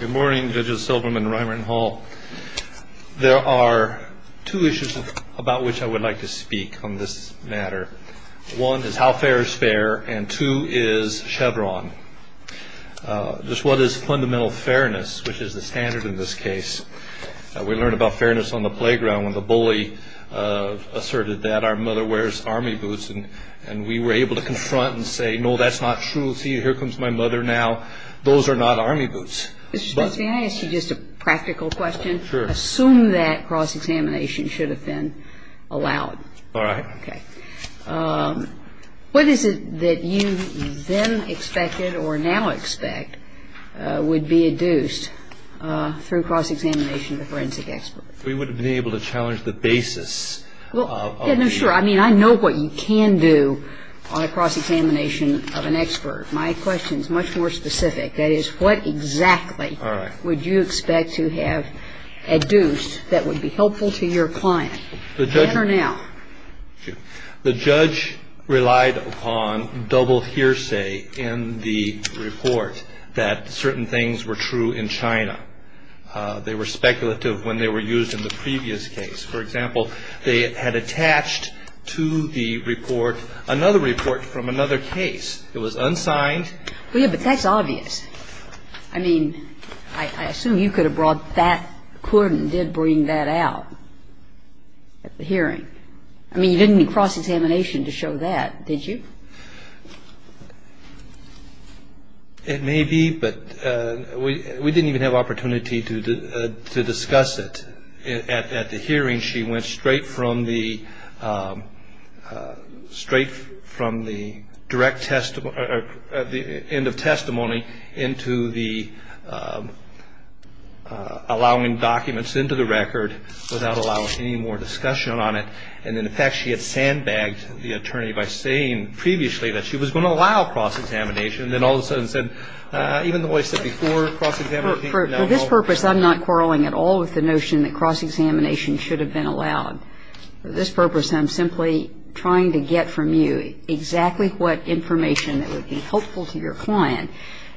Good morning, Judges Silverman, Reimer, and Hall. There are two issues about which I would like to speak on this matter. One is how fair is fair, and two is Chevron. Just what is fundamental fairness, which is the standard in this case? We learned about fairness on the playground when the bully asserted that our mother wears Army boots, and we were able to confront and say, no, that's not true. Here comes my mother now. Those are not Army boots. Mr. Spence, may I ask you just a practical question? Sure. Assume that cross-examination should have been allowed. All right. Okay. What is it that you then expected or now expect would be adduced through cross-examination to forensic experts? We would have been able to challenge the basis of the – My question is much more specific. That is, what exactly would you expect to have adduced that would be helpful to your client, then or now? Sure. The judge relied upon double hearsay in the report that certain things were true in China. They were speculative when they were used in the previous case. For example, they had attached to the report another report from another case. It was unsigned. Yes, but that's obvious. I mean, I assume you could have brought that court and did bring that out at the hearing. I mean, you didn't need cross-examination to show that, did you? It may be, but we didn't even have opportunity to discuss it. At the hearing, she went straight from the – straight from the direct testimony – the end of testimony into the allowing documents into the record without allowing any more discussion on it. And then, in fact, she had sandbagged the attorney by saying previously that she was going to allow cross-examination, and then all of a sudden said, even though I said before cross-examination, now no. For this purpose, I'm not quarreling at all with the notion that cross-examination should have been allowed. For this purpose, I'm simply trying to get from you exactly what information that would be helpful to your client.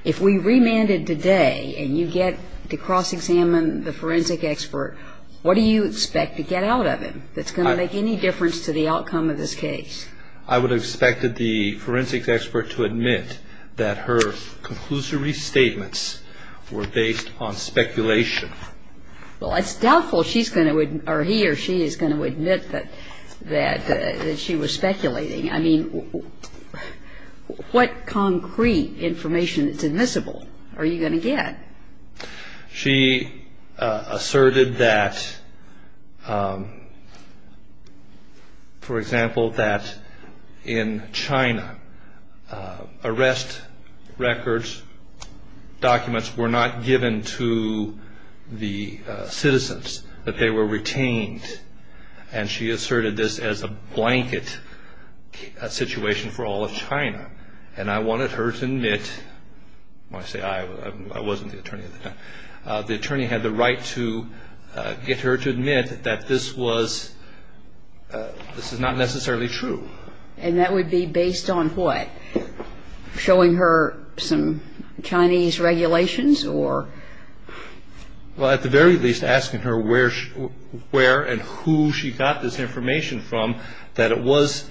If we remanded today and you get to cross-examine the forensic expert, what do you expect to get out of him that's going to make any difference to the outcome of this case? I would have expected the forensic expert to admit that her conclusory statements were based on speculation. Well, it's doubtful she's going to – or he or she is going to admit that she was speculating. I mean, what concrete information that's admissible are you going to get? She asserted that, for example, that in China, arrest records, documents were not given to the citizens, that they were retained, and she asserted this as a blanket situation for all of China. And I wanted her to admit – when I say I, I wasn't the attorney at the time – the attorney had the right to get her to admit that this was – this is not necessarily true. And that would be based on what? Showing her some Chinese regulations or? Well, at the very least, asking her where and who she got this information from that it was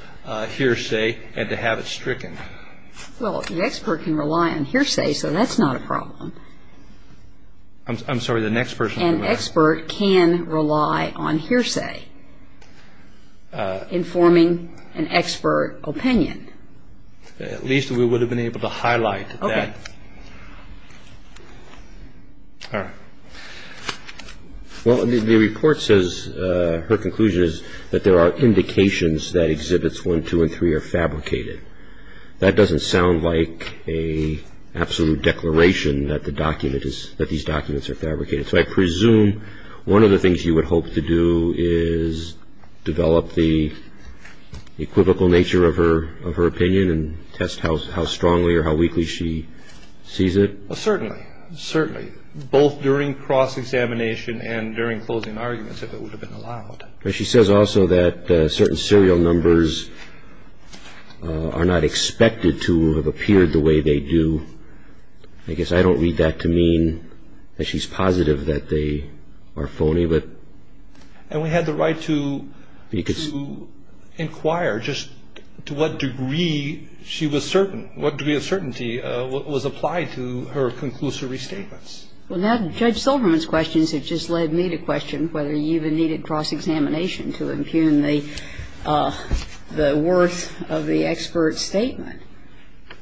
hearsay and to have it stricken. Well, the expert can rely on hearsay, so that's not a problem. I'm sorry, the next person. An expert can rely on hearsay informing an expert opinion. At least we would have been able to highlight that. Okay. All right. Well, the report says – her conclusion is that there are indications that Exhibits 1, 2, and 3 are fabricated. That doesn't sound like an absolute declaration that the document is – that these documents are fabricated. So I presume one of the things you would hope to do is develop the equivocal nature of her opinion and test how strongly or how weakly she sees it? Certainly. Certainly. Both during cross-examination and during closing arguments, if it would have been allowed. But she says also that certain serial numbers are not expected to have appeared the way they do. I guess I don't read that to mean that she's positive that they are phony. And we had the right to inquire just to what degree she was certain, what degree of certainty was applied to her conclusive restatements. Well, now Judge Silverman's questions have just led me to question whether you even needed cross-examination to impugn the worth of the expert's statement.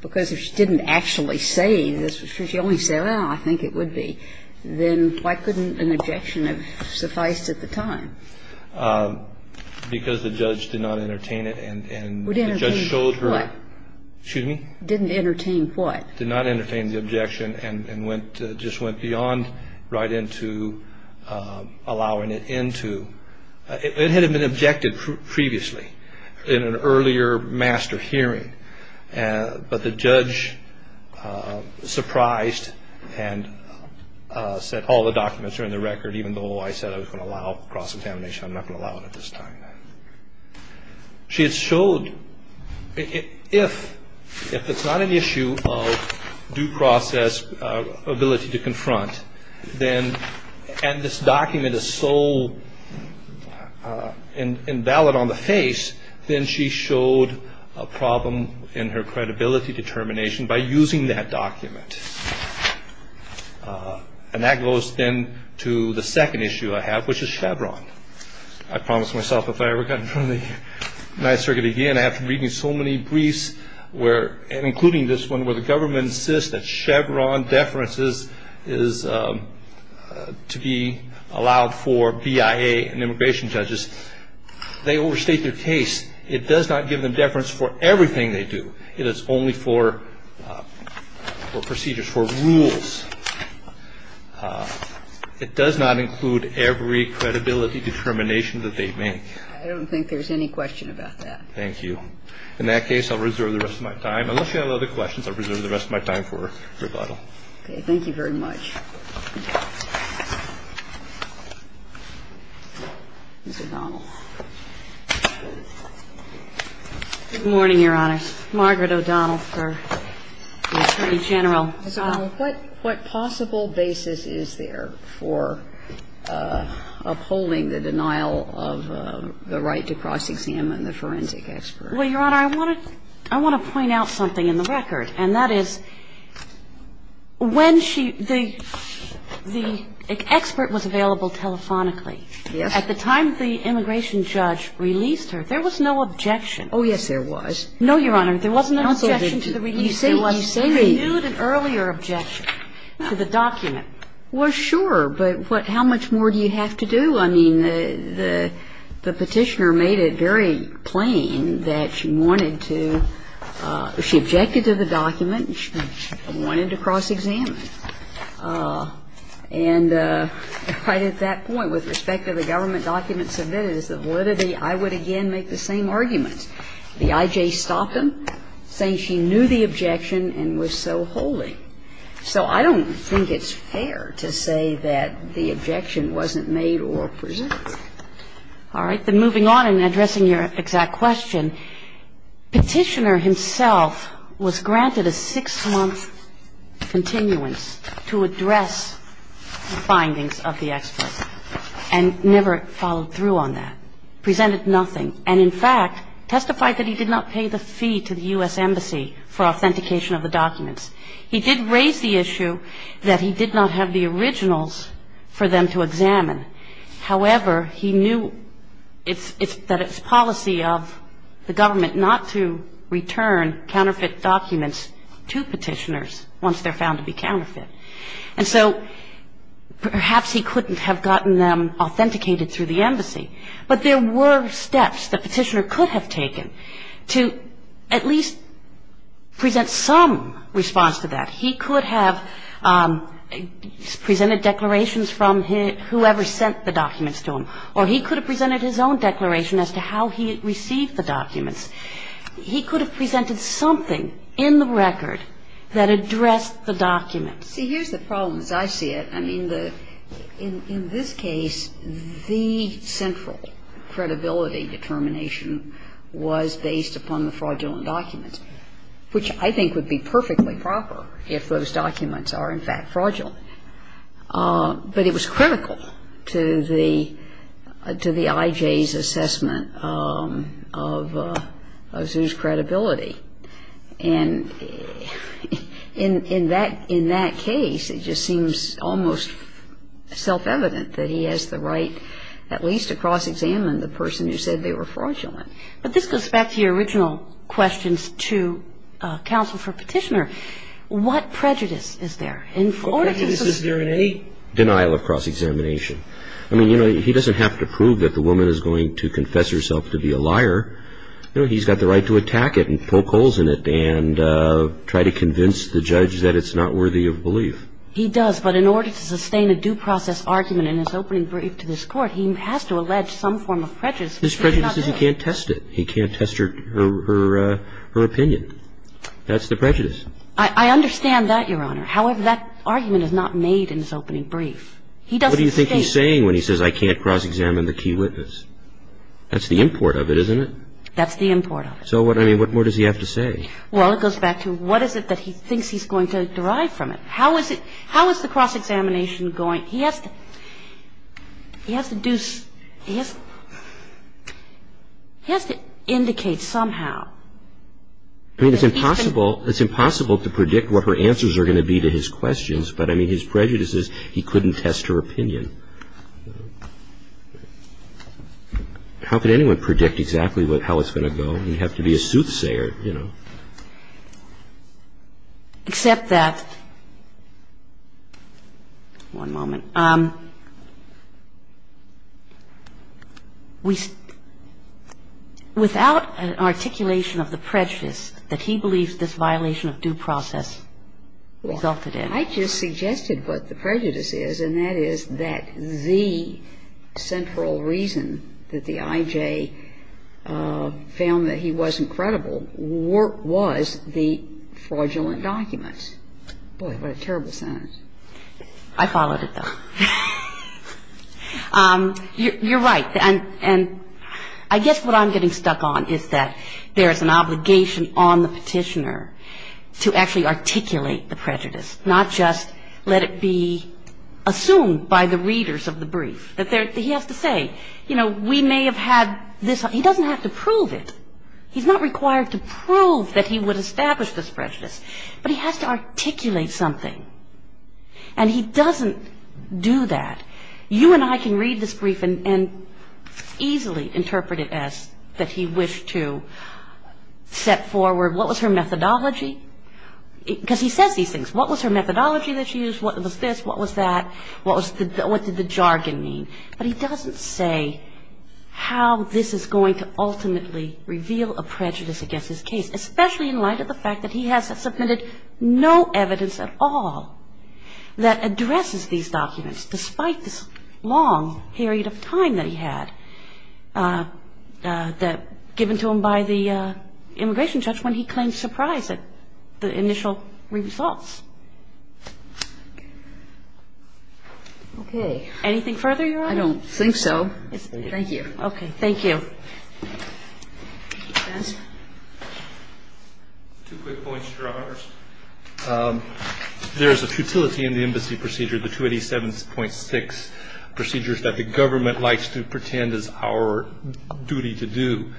Because if she didn't actually say this, if she only said, well, I think it would be, then why couldn't an objection have sufficed at the time? Because the judge did not entertain it and the judge showed her – Didn't entertain what? Excuse me? Didn't entertain what? Did not entertain the objection and went – just went beyond right into allowing it into – It had been objected previously in an earlier master hearing, but the judge surprised and said all the documents are in the record, even though I said I was going to allow cross-examination. I'm not going to allow it at this time. She had showed if it's not an issue of due process ability to confront, and this document is so invalid on the face, then she showed a problem in her credibility determination by using that document. And that goes then to the second issue I have, which is Chevron. I promised myself if I ever got in front of the Ninth Circuit again, I'd have to read me so many briefs, including this one, where the government insists that Chevron deference is to be allowed for BIA and immigration judges. They overstate their case. It does not give them deference for everything they do. It is only for procedures, for rules. It does not include every credibility determination that they make. I don't think there's any question about that. Thank you. In that case, I'll reserve the rest of my time. Unless you have other questions, I'll reserve the rest of my time for rebuttal. Okay. Thank you very much. Ms. O'Donnell. Good morning, Your Honor. Margaret O'Donnell, sir, the Attorney General. Ms. O'Donnell. What possible basis is there for upholding the denial of the right to cross-examine the forensic expert? Well, Your Honor, I want to point out something in the record, and that is when she – the expert was available telephonically. Yes. At the time the immigration judge released her, there was no objection. Oh, yes, there was. No, Your Honor, there wasn't an objection to the release. You say renewed. There was renewed and earlier objection to the document. Well, sure. But how much more do you have to do? Well, I mean, the Petitioner made it very plain that she wanted to – she objected to the document and she wanted to cross-examine. And right at that point, with respect to the government document submitted, as the validity, I would again make the same argument. The I.J. stopped him, saying she knew the objection and was so holy. So I don't think it's fair to say that the objection wasn't made or presented. All right. Then moving on and addressing your exact question, Petitioner himself was granted a six-month continuance to address the findings of the expert and never followed through on that, presented nothing, and, in fact, testified that he did not pay the fee to the U.S. Embassy for authentication of the documents. He did raise the issue that he did not have the originals for them to examine. However, he knew that it's policy of the government not to return counterfeit documents to Petitioners once they're found to be counterfeit. And so perhaps he couldn't have gotten them authenticated through the Embassy. But there were steps that Petitioner could have taken to at least present some response to that. He could have presented declarations from whoever sent the documents to him, or he could have presented his own declaration as to how he received the documents. He could have presented something in the record that addressed the document. See, here's the problem, as I see it. I mean, in this case, the central credibility determination was based upon the fraudulent documents, which I think would be perfectly proper if those documents are, in fact, fraudulent. But it was critical to the I.J.'s assessment of Azu's credibility. And in that case, it just seems almost self-evident that he has the right at least to cross-examine the person who said they were fraudulent. But this goes back to your original questions to counsel for Petitioner. What prejudice is there? What prejudice is there in any denial of cross-examination? I mean, you know, he doesn't have to prove that the woman is going to confess herself to be a liar. You know, he's got the right to attack it and poke holes in it and try to convince the judge that it's not worthy of belief. He does, but in order to sustain a due process argument in his opening brief to this Court, he has to allege some form of prejudice. His prejudice is he can't test it. He can't test her opinion. That's the prejudice. I understand that, Your Honor. However, that argument is not made in his opening brief. What do you think he's saying when he says, I can't cross-examine the key witness? That's the import of it, isn't it? That's the import of it. So, I mean, what more does he have to say? Well, it goes back to what is it that he thinks he's going to derive from it. How is the cross-examination going? He has to do he has to indicate somehow. I mean, it's impossible to predict what her answers are going to be to his questions. But, I mean, his prejudice is he couldn't test her opinion. How could anyone predict exactly how it's going to go? He'd have to be a soothsayer, you know. Except that one moment. Without an articulation of the prejudice that he believes this violation of due process resulted in. I just suggested what the prejudice is, and that is that the central reason that the I.J. found that he wasn't credible was the fraudulent documents. Boy, what a terrible sentence. I followed it, though. You're right. And I guess what I'm getting stuck on is that there is an obligation on the Petitioner to actually articulate the prejudice, not just let it be assumed by the readers of the brief. He has to say, you know, we may have had this. He doesn't have to prove it. He's not required to prove that he would establish this prejudice. But he has to articulate something. And he doesn't do that. You and I can read this brief and easily interpret it as that he wished to set forward what was her methodology. Because he says these things. What was her methodology that she used? What was this? What was that? What did the jargon mean? But he doesn't say how this is going to ultimately reveal a prejudice against his case, especially in light of the fact that he has submitted no evidence at all that addresses these documents, despite this long period of time that he had given to him by the immigration judge when he claimed surprise at the initial results. Okay. Anything further, Your Honor? I don't think so. Thank you. Okay. Thank you. Two quick points, Your Honors. There is a futility in the embassy procedure, the 287.6, procedures that the government likes to pretend is our duty to do.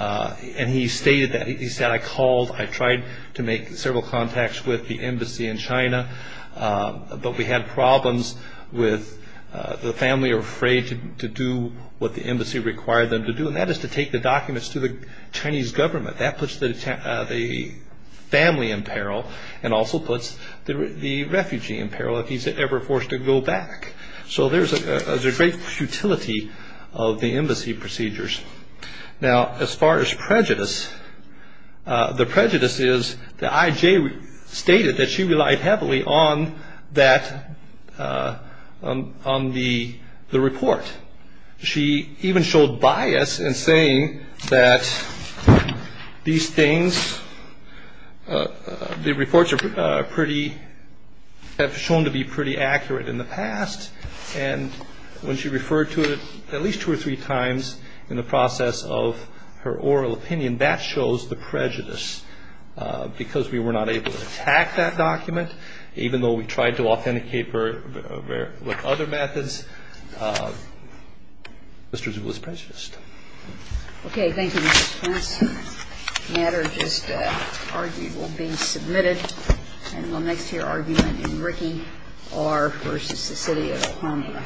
And he stated that. He said, I called, I tried to make several contacts with the embassy in China, but we had problems with the family afraid to do what the embassy required them to do, and that is to take the documents to the Chinese government. That puts the family in peril and also puts the refugee in peril if he's ever forced to go back. So there's a great futility of the embassy procedures. Now, as far as prejudice, the prejudice is that IJ stated that she relied heavily on that, on the report. She even showed bias in saying that these things, the reports are pretty, have shown to be pretty accurate in the past, and when she referred to it at least two or three times in the process of her oral opinion, that shows the prejudice because we were not able to attack that document, even though we tried to authenticate her with other methods. Mr. Zhu was prejudiced. Okay. Thank you, Mr. Smith. The matter just argued will be submitted, and will next hear argument in Rikki R. versus the city of Oklahoma. Thank you.